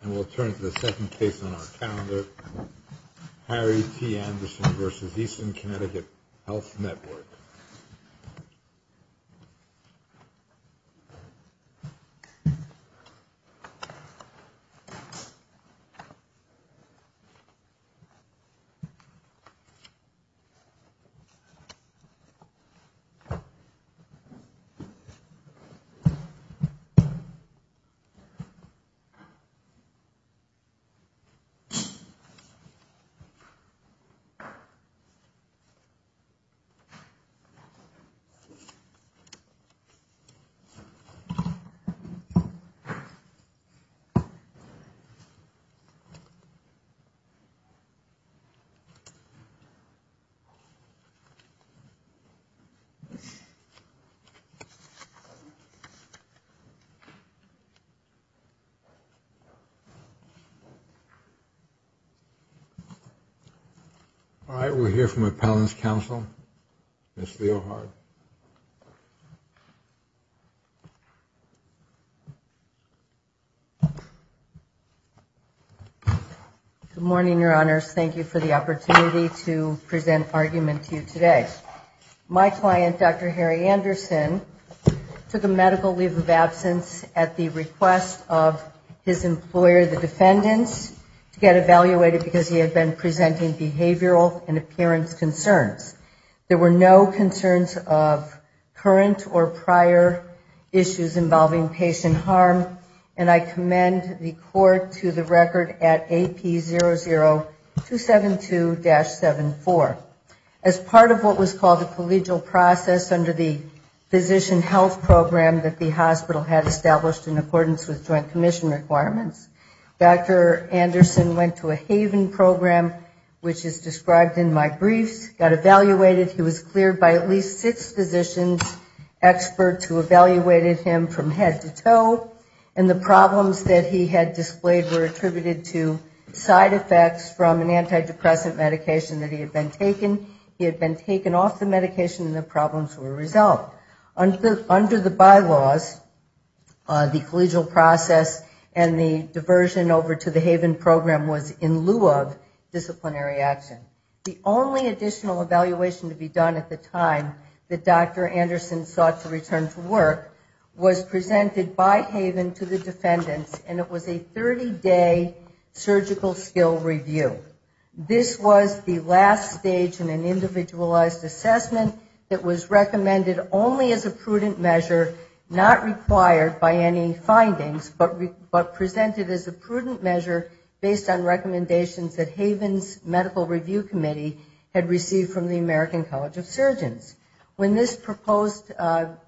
And we'll turn to the second case on our calendar, Harry T. Anderson v. Eastern CT Health Network. Harry T. Anderson All right, we'll hear from a panelist counsel, Ms. Leo Hart. Good morning, your honors. Thank you for the opportunity to present argument to you today. My client, Dr. Harry Anderson, took a medical leave of absence at the request of his employer, the defendants, to get evaluated because he had been presenting behavioral and appearance concerns. There were no concerns of current or prior issues involving patient harm, and I commend the court to the record at AP00272-74. As part of what was called a collegial process under the physician health program that the hospital had established in accordance with joint commission requirements, Dr. Anderson went to a Haven program, which is described in my briefs, got evaluated. He was cleared by at least six physicians, experts who evaluated him from head to toe, and the problems that he had displayed were attributed to side effects from an antidepressant medication that he had been taking. He had been taken off the medication, and the problems were resolved. Under the bylaws, the collegial process and the diversion over to the Haven program was in lieu of disciplinary action. The only additional evaluation to be done at the time that Dr. Anderson sought to return to work was presented by Haven to the defendants, and it was a 30-day surgical skill review. This was the last stage in an individualized assessment that was recommended only as a prudent measure, not required by any findings, but presented as a prudent measure based on recommendations that Haven's medical review committee had received from the American College of Surgeons. When this proposed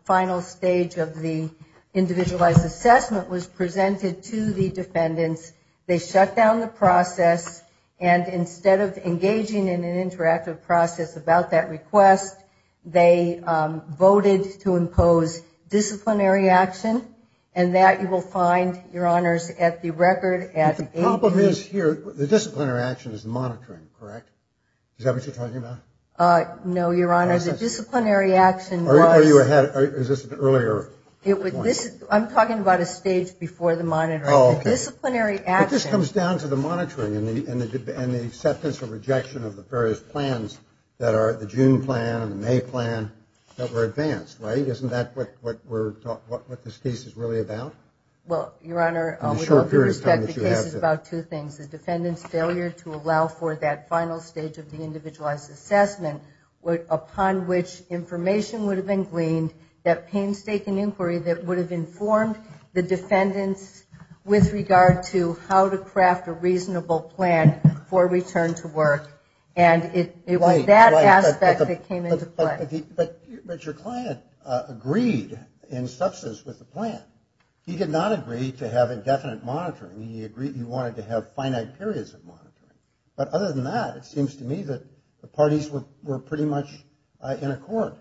final stage of the individualized assessment was presented to the defendants, they shut down the process, and they went back to work. And instead of engaging in an interactive process about that request, they voted to impose disciplinary action, and that you will find, your honors, at the record. The problem is here, the disciplinary action is monitoring, correct? Is that what you're talking about? No, your honors, the disciplinary action was... Is this an earlier point? I'm talking about a stage before the monitoring. The disciplinary action... It was the June plan and the May plan that were advanced, right? Isn't that what this case is really about? Well, your honor, we have to respect the case is about two things. The defendant's failure to allow for that final stage of the individualized assessment, upon which information would have been gleaned, that painstaking inquiry that would have informed the defendants with regard to how to craft a reasonable plan for return to work, and it was that aspect of the process that was the most important. But your client agreed in substance with the plan. He did not agree to have indefinite monitoring. He agreed he wanted to have finite periods of monitoring. But other than that, it seems to me that the parties were pretty much in accord.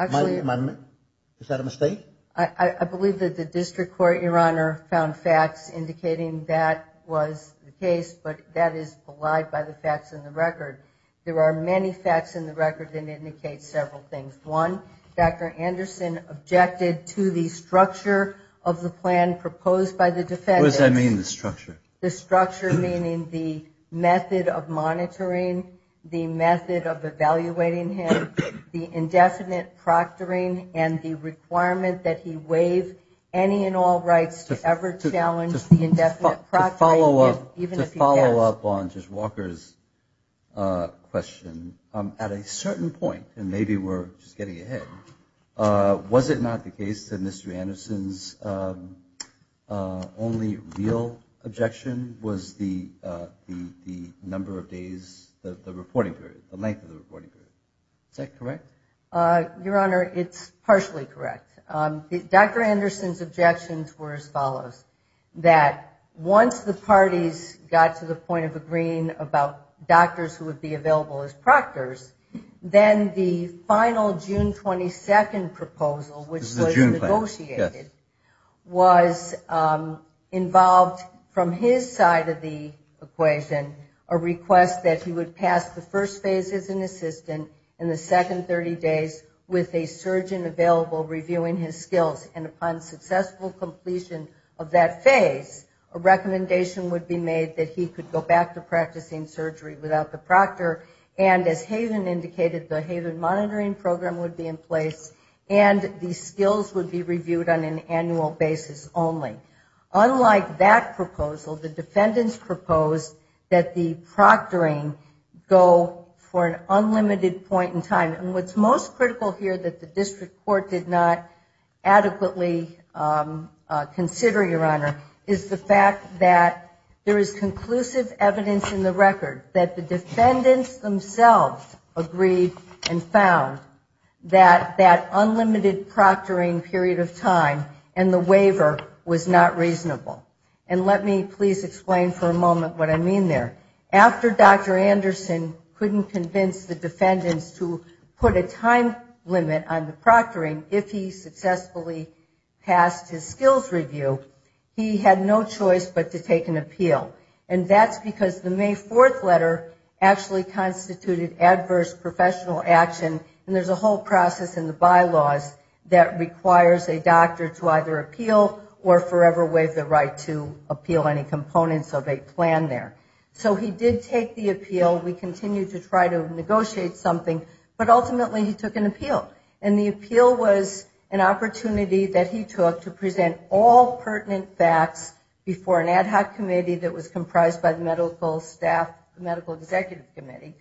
Is that a mistake? I believe that the district court, your honor, found facts indicating that was the case, but that is belied by the facts in the record. There are many facts in the record that indicate several things. One, Dr. Anderson objected to the structure of the plan proposed by the defendant. What does that mean, the structure? Does that mean that the defendant, that he waived any and all rights to ever challenge the indefinite process? To follow up on just Walker's question, at a certain point, and maybe we're just getting ahead, was it not the case that Mr. Anderson's only real objection was the number of days, the length of the reporting period? Is that correct? Your honor, it's partially correct. Dr. Anderson's objections were as follows, that once the parties got to the point of agreeing about doctors who would be available as proctors, then the final June 22nd proposal, which was negotiated, was involved from his side of the equation, a request that he would pass the first phase as an assistant, and the second phase as an assistant. And the second 30 days with a surgeon available reviewing his skills. And upon successful completion of that phase, a recommendation would be made that he could go back to practicing surgery without the proctor. And as Haven indicated, the Haven monitoring program would be in place, and the skills would be reviewed on an annual basis only. Unlike that proposal, the defendants proposed that the proctoring go for an unlimited point of time. And what's most critical here that the district court did not adequately consider, your honor, is the fact that there is conclusive evidence in the record that the defendants themselves agreed and found that that unlimited proctoring period of time and the waiver was not reasonable. And let me please explain for a moment what I mean there. If a doctor was to put a time limit on the proctoring, if he successfully passed his skills review, he had no choice but to take an appeal. And that's because the May 4th letter actually constituted adverse professional action, and there's a whole process in the bylaws that requires a doctor to either appeal or forever waive the right to appeal any components of a plan there. So he did take the appeal, we continued to try to negotiate something, but ultimately he took an appeal. And the appeal was an opportunity that he took to present all pertinent facts before an ad hoc committee that was comprised by the medical staff, the medical executive committee.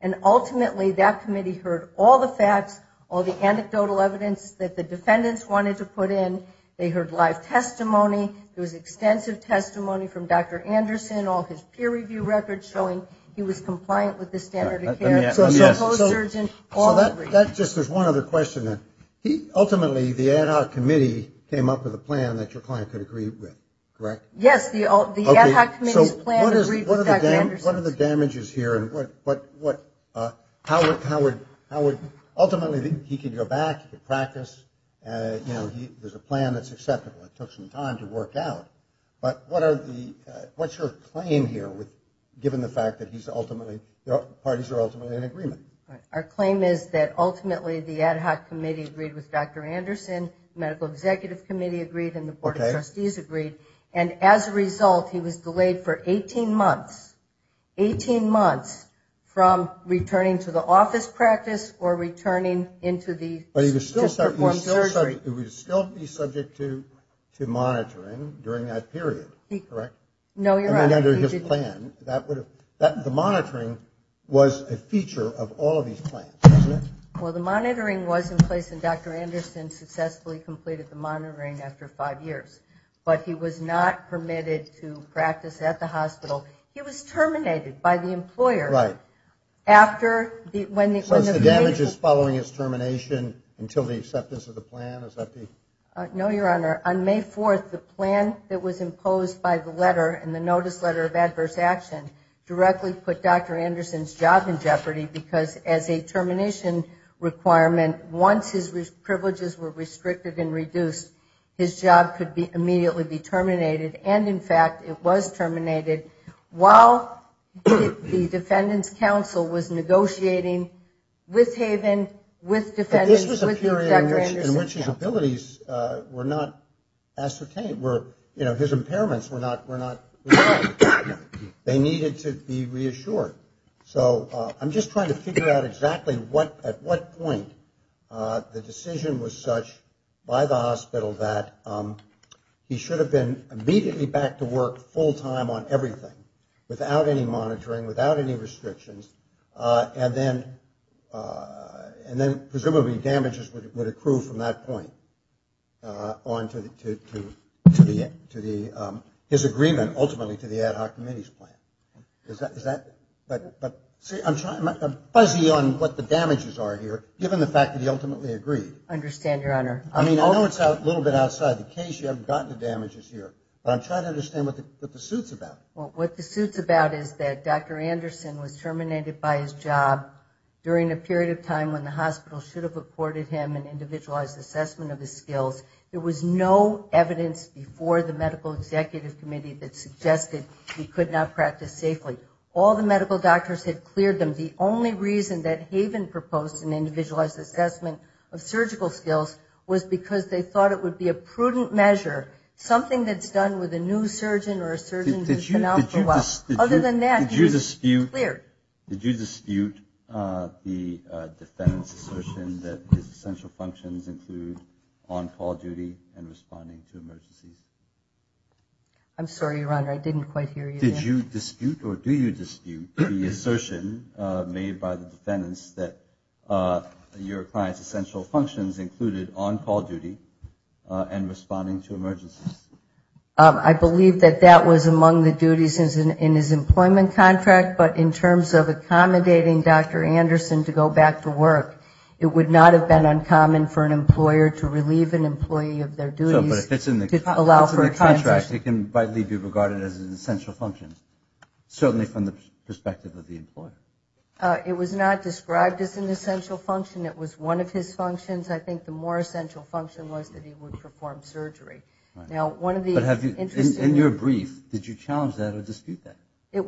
And ultimately that committee heard all the facts, all the anecdotal evidence that the defendants wanted to put in. They heard live testimony, there was extensive testimony from Dr. Anderson, all his peer review records showing he was compliant with the standard of care. So that's just, there's one other question. Ultimately the ad hoc committee came up with a plan that your client could agree with, correct? Yes, the ad hoc committee's plan agreed with Dr. Anderson's. What are the damages here? Ultimately he could go back, he could practice, there's a plan that's acceptable, it took some time to work out. But what's your claim here, given the fact that parties are ultimately in agreement? Our claim is that ultimately the ad hoc committee agreed with Dr. Anderson, medical executive committee agreed, and the board of trustees agreed. And as a result he was delayed for 18 months, 18 months from returning to the office practice or returning into the... But he was still subject to monitoring during that period, correct? No, you're right. I mean under his plan, the monitoring was a feature of all of his plans, wasn't it? Well, the monitoring was in place and Dr. Anderson successfully completed the monitoring after five years. But he was not permitted to practice at the hospital. He was terminated by the employer. Since the damage is following his termination until the acceptance of the plan, is that the... requirement, once his privileges were restricted and reduced, his job could immediately be terminated. And in fact, it was terminated while the defendants council was negotiating with Haven, with defendants, with Dr. Anderson. But this was a period in which his abilities were not ascertained, his impairments were not... They needed to be reassured. So I'm just trying to figure out exactly at what point in time he was able to return to the office. At what point the decision was such by the hospital that he should have been immediately back to work full time on everything, without any monitoring, without any restrictions, and then presumably damages would accrue from that point on to the... his agreement ultimately to the ad hoc committee's plan. I'm fuzzy on what the damages are here, given the fact that he ultimately agreed. I know it's a little bit outside the case, you haven't gotten the damages here, but I'm trying to understand what the suit's about. What the suit's about is that Dr. Anderson was terminated by his job during a period of time when the hospital should have reported him an individualized assessment of his skills. There was no evidence before the medical executive committee that suggested he could not practice safely. All the medical doctors had cleared him. The only reason that Haven proposed an individualized assessment of surgical skills was because they thought it would be a prudent measure, something that's done with a new surgeon or a surgeon who's been out for a while. Other than that, he was cleared. I believe that that was among the duties in his employment contract, but in terms of accommodating Dr. Anderson to go back to work, it would not have been uncommon for an employer to relieve an employee of their duties to allow for a transition. It can rightly be regarded as an essential function, certainly from the perspective of the employer. It was not described as an essential function. It was one of his functions. I think the more essential function was that he would perform surgery. In your brief, did you challenge that or dispute that? It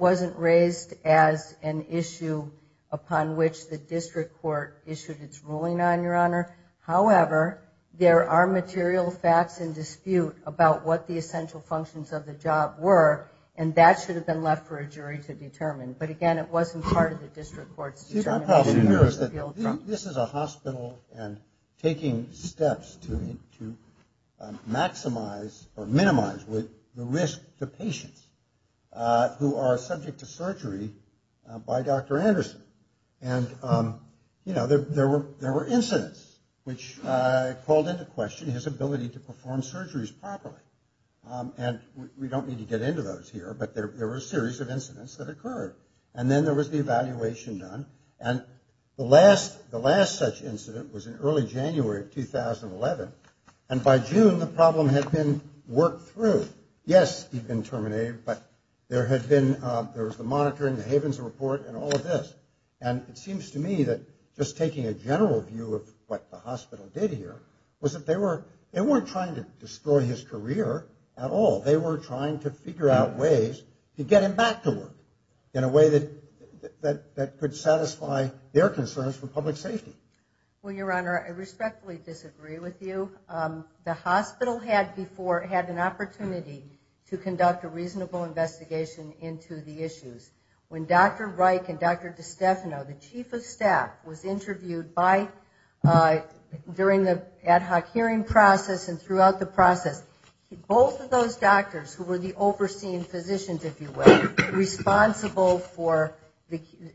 wasn't raised as an issue upon which the district court issued its ruling on, Your Honor. However, there are material facts in dispute about what the essential functions of the job were, and that should have been left for a jury to determine. But again, it wasn't part of the district court's determination. This is a hospital and taking steps to maximize or minimize with the risk to patients. Who are subject to surgery by Dr. Anderson. And, you know, there were incidents which called into question his ability to perform surgeries properly. And we don't need to get into those here, but there were a series of incidents that occurred. And then there was the evaluation done. And the last such incident was in early January of 2011. And by June, the problem had been worked through. Yes, he'd been terminated, but there had been, there was the monitoring, the Havens report, and all of this. And it seems to me that just taking a general view of what the hospital did here was that they weren't trying to destroy his career at all. They were trying to figure out ways to get him back to work in a way that could satisfy their concerns for public safety. Well, Your Honor, I respectfully disagree with you. The hospital had before, had an opportunity to conduct a reasonable investigation into the issues. When Dr. Reich and Dr. DiStefano, the chief of staff, was interviewed by, during the ad hoc hearing process and throughout the process, both of those doctors, who were the overseeing physicians, if you will, responsible for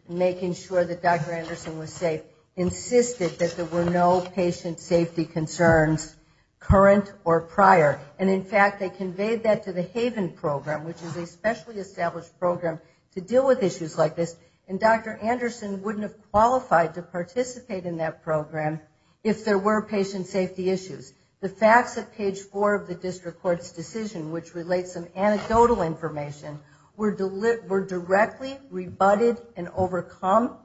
making sure that Dr. Anderson was safe, insisted that the chief of staff, Dr. Anderson, insisted that there were no patient safety concerns current or prior. And in fact, they conveyed that to the Haven program, which is a specially established program to deal with issues like this, and Dr. Anderson wouldn't have qualified to participate in that program if there were patient safety issues. The facts at page four of the district court's decision, which relates to anecdotal information, were directly rebutted and overcome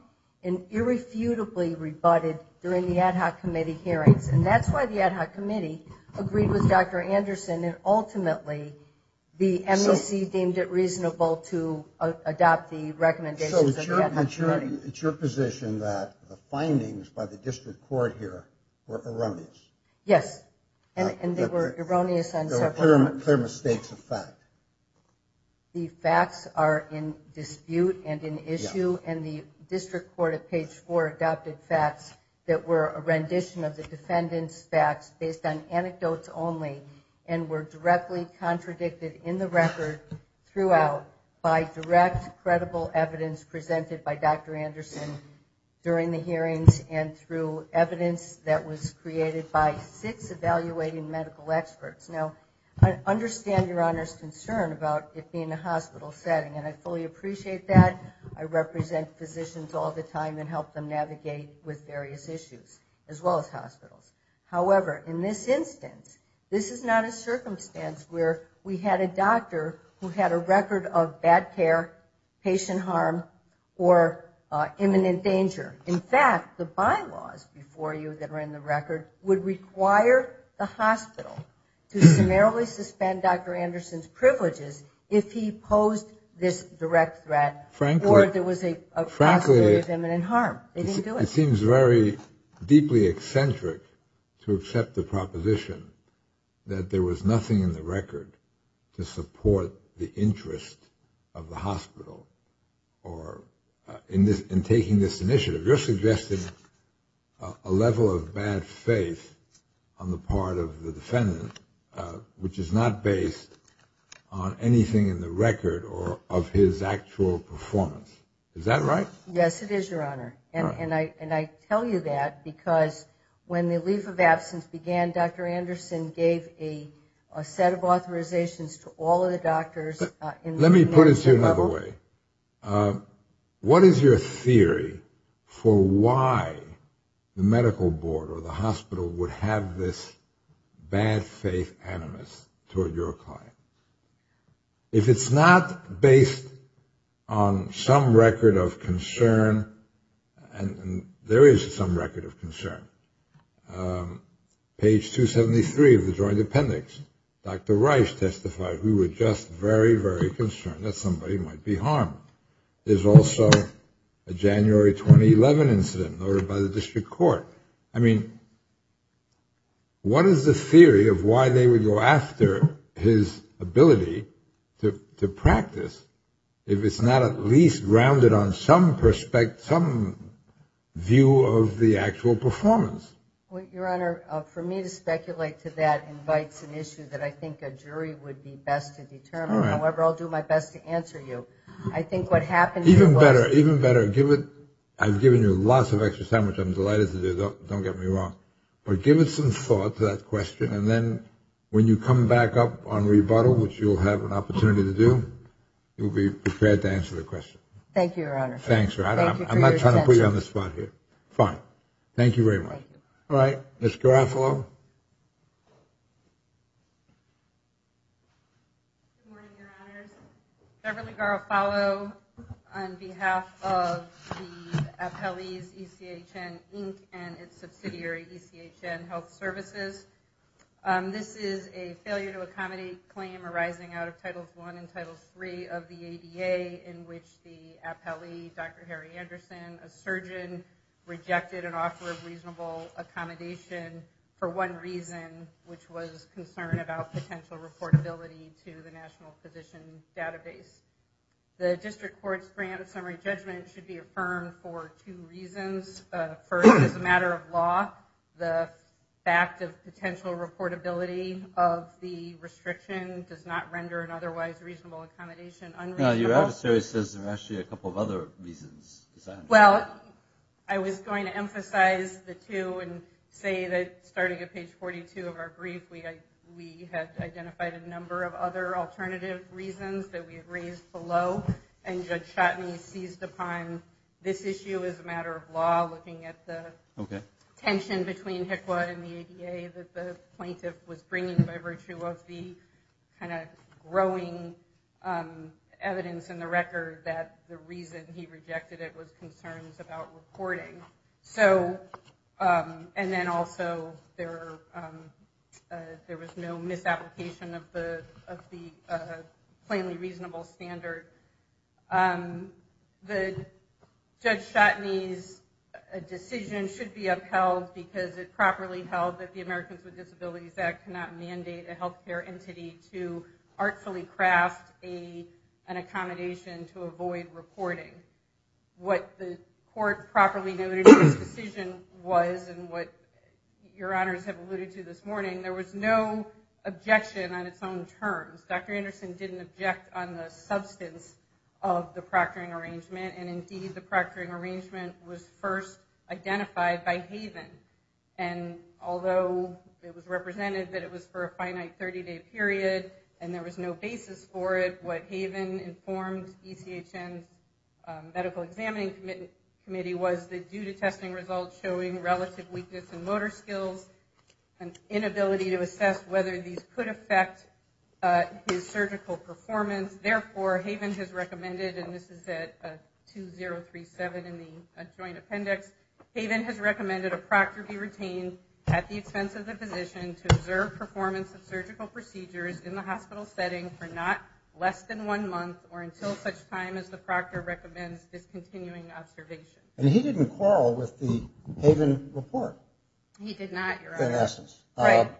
and irrefutably rebutted during the ad hoc committee hearings. And that's why the ad hoc committee agreed with Dr. Anderson and ultimately, the MEC deemed it reasonable to adopt the recommendations of the ad hoc committee. So it's your position that the findings by the district court here were erroneous? Yes, and they were erroneous on several fronts. The facts are in dispute and in issue, and the district court at page four adopted facts that were a rendition of the defendant's facts based on anecdotes only and were directly contradicted in the record throughout by direct, credible evidence presented by Dr. Anderson during the hearings and through evidence that was created by six evaluative medical experts. Now, I understand your Honor's concern about it being a hospital setting, and I fully appreciate that. I represent physicians all the time and help them navigate with various issues, as well as hospitals. However, in this instance, this is not a circumstance where we had a doctor who had a record of bad care, patient harm, or imminent danger. In fact, the bylaws before you that were in the record would require the hospital to summarily suspend Dr. Anderson's privileges if he posed this direct threat or if there was a possibility of imminent harm. It seems very deeply eccentric to accept the proposition that there was nothing in the record to support the interest of the hospital in taking this initiative. You're suggesting a level of bad faith on the part of the defendant, which is not based on anything in the record or of his actual performance. Is that right? Yes, it is, Your Honor. And I tell you that because when the leave of absence began, Dr. Anderson gave a set of authorizations to all of the doctors in the medical level. Okay. What is your theory for why the medical board or the hospital would have this bad faith animus toward your client? If it's not based on some record of concern, and there is some record of concern. Page 273 of the joint appendix, Dr. Rice testified, we were just very, very concerned that somebody might be harmed. There's also a January 2011 incident noted by the district court. I mean, what is the theory of why they would go after his ability to practice if it's not at least grounded on some perspective, some view of the actual performance? Well, Your Honor, for me to speculate to that invites an issue that I think a jury would be best to determine. However, I'll do my best to answer you. I think what happened... Even better, even better. I've given you lots of extra time, which I'm delighted to do. Don't get me wrong. But give us some thought to that question. And then when you come back up on rebuttal, which you'll have an opportunity to do, you'll be prepared to answer the question. Thank you, Your Honor. Thanks, Your Honor. I'm not trying to put you on the spot here. Fine. Thank you very much. All right, Ms. Garofalo. Good morning, Your Honor. Beverly Garofalo on behalf of the Appellee's ECHN, Inc., and its subsidiary, ECHN Health Services. This is a failure to accommodate claim arising out of Title I and Title III of the ADA in which the appellee did not meet the requirements of Title I. In this case, Dr. Harry Anderson, a surgeon, rejected an offer of reasonable accommodation for one reason, which was concern about potential reportability to the National Physician Database. The District Court's grant of summary judgment should be affirmed for two reasons. First, as a matter of law, the fact of potential reportability of the restriction does not render an otherwise reasonable accommodation unreasonable. Your advisory says there are actually a couple of other reasons. Well, I was going to emphasize the two and say that starting at page 42 of our brief, we had identified a number of other alternative reasons that we had raised below, and Judge Chotney seized upon this issue as a matter of law, looking at the tension between HCQA and the ADA that the plaintiff was bringing by virtue of the kind of growing evidence that was available. There was no evidence in the record that the reason he rejected it was concerns about reporting. And then also, there was no misapplication of the plainly reasonable standard. Judge Chotney's decision should be upheld because it properly held that the Americans with Disabilities Act cannot mandate a healthcare entity to artfully craft an accommodation to avoid reporting. What the court properly noted in this decision was, and what your honors have alluded to this morning, there was no objection on its own terms. Dr. Anderson didn't object on the substance of the proctoring arrangement, and indeed the proctoring arrangement was first identified by Haven. And although it was represented that it was for a finite 30-day period, and there was no basis for it, what Haven informed ECHN Medical Examining Committee was that due to testing results showing relative weakness in motor skills and inability to assess whether these could affect his surgical performance, therefore, Haven has recommended, and this is at 2037 in the joint appendix, Haven has recommended a proctor be retained at the expense of the physician to observe performance of surgical procedures in the hospital setting for not less than one month or until such time as the proctor recommends discontinuing observation. And he didn't quarrel with the Haven report. He did not, your honors. In essence. The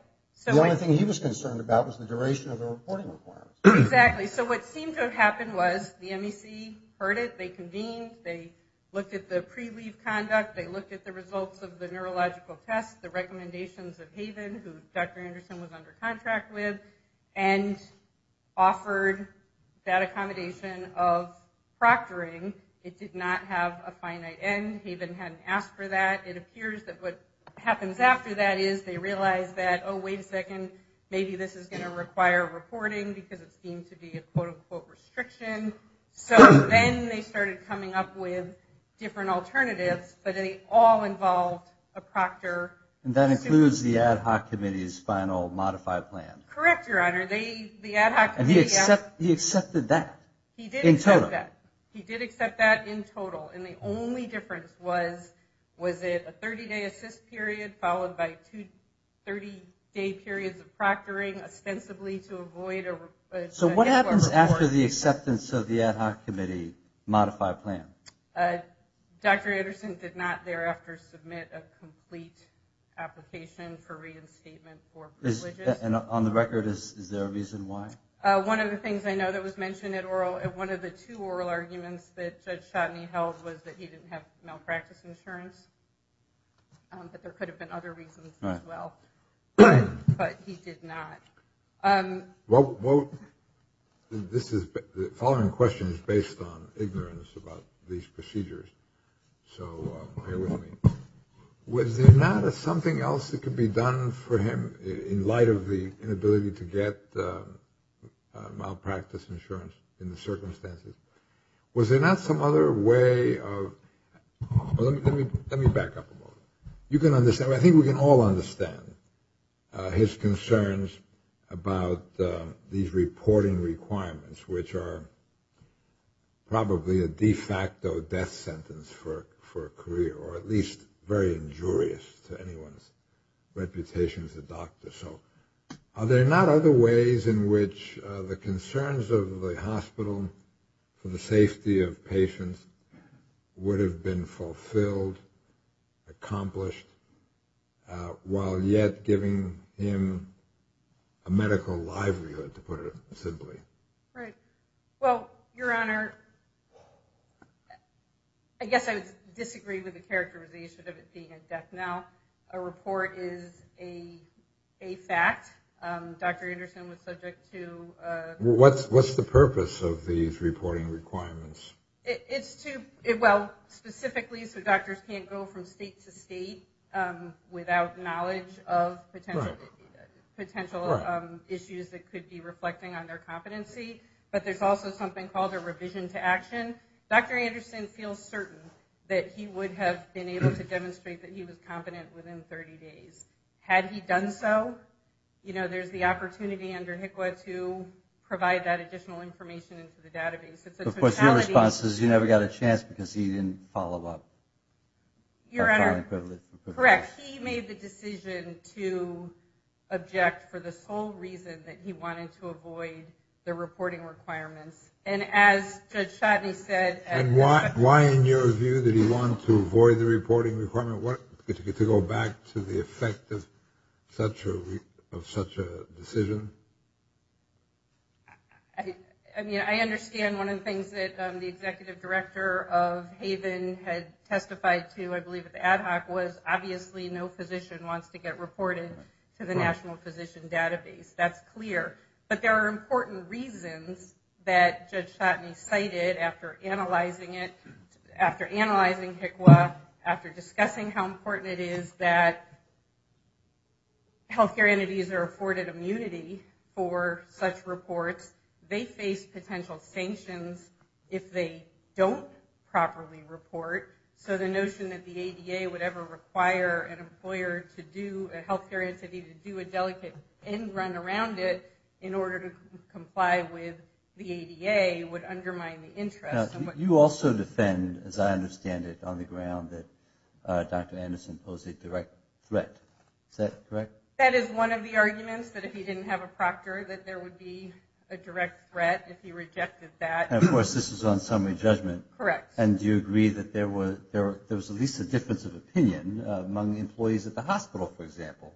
only thing he was concerned about was the duration of the reporting requirement. Exactly. So what seemed to have happened was the MEC heard it, they convened, they looked at the pre-leave conduct, they looked at the results of the neurological test, the recommendations of Haven, who Dr. Anderson was under contract with, and offered that accommodation of proctoring. It did not have a finite end. Haven hadn't asked for that. It appears that what happens after that is they realize that, oh, wait a second, maybe this is going to require reporting because it seemed to be a quote-unquote restriction. So then they started coming up with different alternatives, but they all involved a proctor. And that includes the ad hoc committee's final modified plan. Correct, your honor. And he accepted that? In total? He did accept that in total. And the only difference was, was it a 30-day assist period followed by two 30-day periods of proctoring, ostensibly to avoid... So what happens after the acceptance of the ad hoc committee modified plan? Dr. Anderson did not thereafter submit a complete application for reinstatement for privileges. And on the record, is there a reason why? One of the things I know that was mentioned at oral, one of the two oral arguments that Judge Chodny held was that he didn't have malpractice insurance, that there could have been other reasons as well. But he did not. Well, this is, the following question is based on these procedures, so bear with me. Was there not something else that could be done for him in light of the inability to get malpractice insurance in the circumstances? Was there not some other way of... Let me back up a moment. You can understand, I think we can all understand his concerns about these reporting requirements, which are probably a de facto death sentence for a career, or at least very injurious to anyone's reputation as a doctor. So are there not other ways in which the concerns of the hospital for the safety of patients would have been fulfilled, accomplished, while yet giving him a medical livelihood, to put it simply? Well, Your Honor, I guess I would disagree with the characterization of it being a death now. A report is a fact. Dr. Anderson was subject to... What's the purpose of these reporting requirements? Specifically, so doctors can't go from state to state without knowledge of potential issues that could be reflecting on their competency, but there's also something called a revision to action. Dr. Anderson feels certain that he would have been able to demonstrate that he was competent within 30 days. Had he done so, there's the opportunity under HCQA to provide that additional information into the database. Of course, your response is you never got a chance because he didn't follow up. Your Honor, correct. He made the decision to object for the sole reason that he wanted to avoid the reporting requirements. And as Judge Chodny said... And why, in your view, did he want to avoid the reporting requirement? To go back to the effect of such a decision? I understand one of the things that the executive director of Haven had testified to, I believe at the ad hoc, was obviously no reported to the National Physician Database. That's clear. But there are important reasons that Judge Chodny cited after analyzing it, after analyzing HCQA, after discussing how important it is that healthcare entities are afforded immunity for such reports. They face potential sanctions if they don't properly report. So the notion that the ADA would ever require an employer to do, a healthcare entity to do a delicate end-run around it in order to comply with the ADA would undermine the interest. You also defend, as I understand it, on the ground that Dr. Anderson posed a direct threat. Is that correct? That is one of the arguments, that if he didn't have a proctor, that there would be a direct threat if he rejected that. And of course, this is on summary judgment. Correct. And do you agree that there was at least a difference of opinion among the employees at the hospital, for example,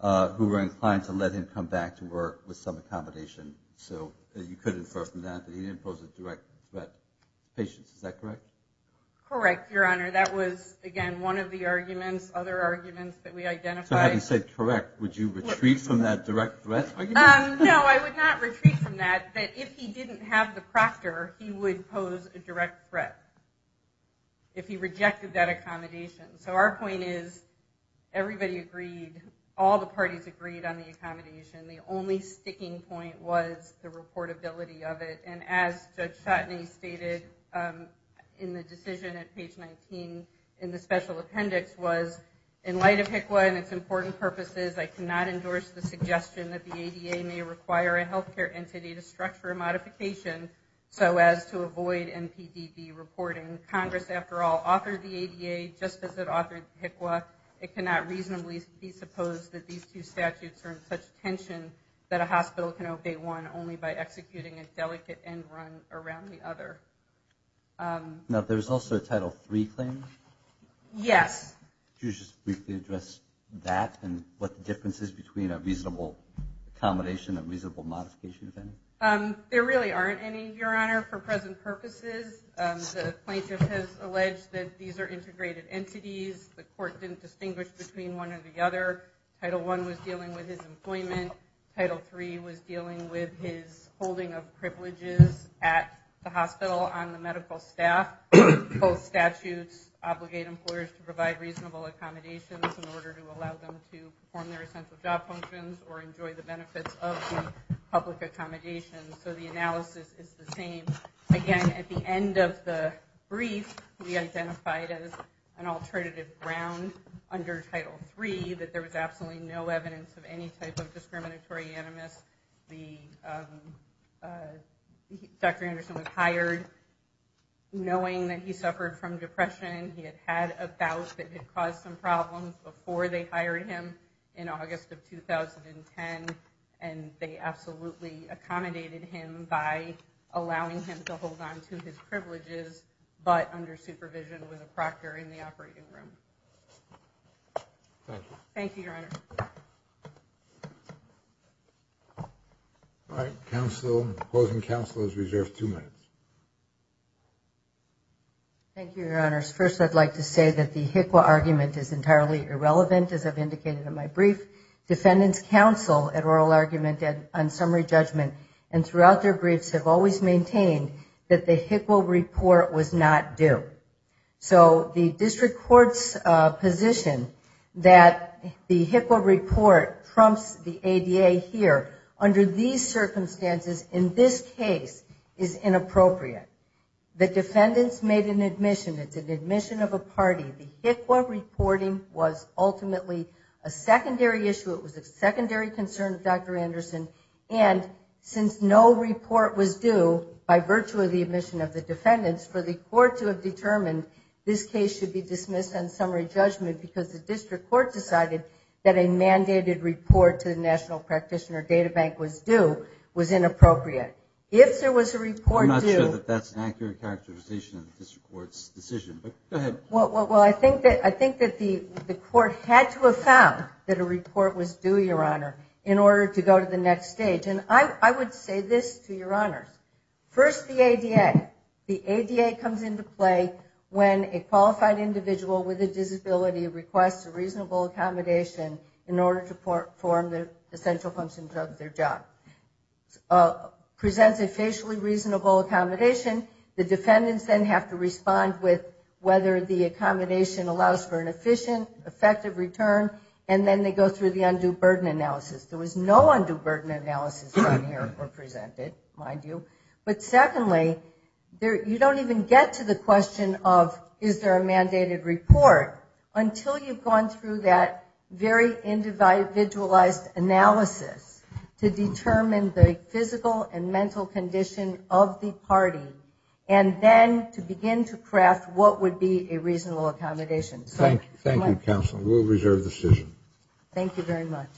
who were inclined to let him come back to work with some accommodation? So you could infer from that that he didn't pose a direct threat to patients. Is that correct? Correct, Your Honor. That was, again, one of the arguments, other arguments that we identified. So having said correct, would you retreat from that direct threat argument? No, I would not retreat from that. That if he didn't have the proctor, he would pose a direct threat. If he rejected that accommodation. So our point is everybody agreed, all the parties agreed on the accommodation. The only sticking point was the reportability of it. And as Judge Chotinay stated in the decision at page 19 in the special appendix was, in light of HICWA and its important purposes, I cannot endorse the suggestion that the ADA may require a health care entity to structure a modification so as to avoid MPDD reporting. Congress, after all, authored the ADA just as it authored HICWA. It cannot reasonably be supposed that these two statutes are in such tension that a hospital can obey one only by executing a delicate end run around the other. Now, there's also a Title III claim? Yes. Could you just briefly address that and what the difference is between a reasonable accommodation and a reasonable modification? There really aren't any, Your Honor, for present purposes. The plaintiff has alleged that these are integrated entities. The court didn't distinguish between one or the other. Title I was dealing with his employment. Title III was dealing with his holding of privileges at the hospital on the medical staff. Both statutes obligate employers to provide reasonable accommodations in order to allow them to perform their essential job functions or enjoy the accommodations. So the analysis is the same. Again, at the end of the brief, we identified as an alternative ground under Title III that there was absolutely no evidence of any type of discriminatory animus. Dr. Anderson was hired knowing that he suffered from depression. He had had a bout that had caused some problems before they hired him in August of 2010 and they absolutely accommodated him by allowing him to hold on to his privileges but under supervision with a proctor in the operating room. Thank you, Your Honor. All right. Closing counsel is reserved two minutes. Thank you, Your Honors. First, I'd like to say that the HICWA argument is entirely irrelevant, as I've indicated in my oral argument on summary judgment, and throughout their briefs have always maintained that the HICWA report was not due. So the district court's position that the HICWA report trumps the ADA here under these circumstances in this case is inappropriate. The defendants made an admission. It's an admission of a party. The HICWA reporting was ultimately a secondary issue. It was a secondary concern of Dr. Anderson, and since no report was due by virtue of the admission of the defendants for the court to have determined this case should be dismissed on summary judgment because the district court decided that a mandated report to the National Practitioner Data Bank was due was inappropriate. If there was a report due... I'm not sure that that's an accurate characterization of this court's decision, but go ahead. Well, I think that the court had to have found that a report was due, Your Honor, in order to go to the next stage, and I would say this to Your Honor. First, the ADA. The ADA comes into play when a qualified individual with a disability requests a reasonable accommodation in order to perform the essential functions of their job. It presents a facially reasonable accommodation. The defendants then have to respond with whether the accommodation allows for an efficient, effective return, and then they go through the undue burden analysis. There was no undue burden analysis on here or presented, mind you. But secondly, you don't even get to the question of is there a mandated report until you've gone through that very individualized analysis to determine the physical and mental condition of the party, and then to begin to craft what would be a reasonable accommodation. Thank you, counsel. We'll reserve the decision. Thank you very much.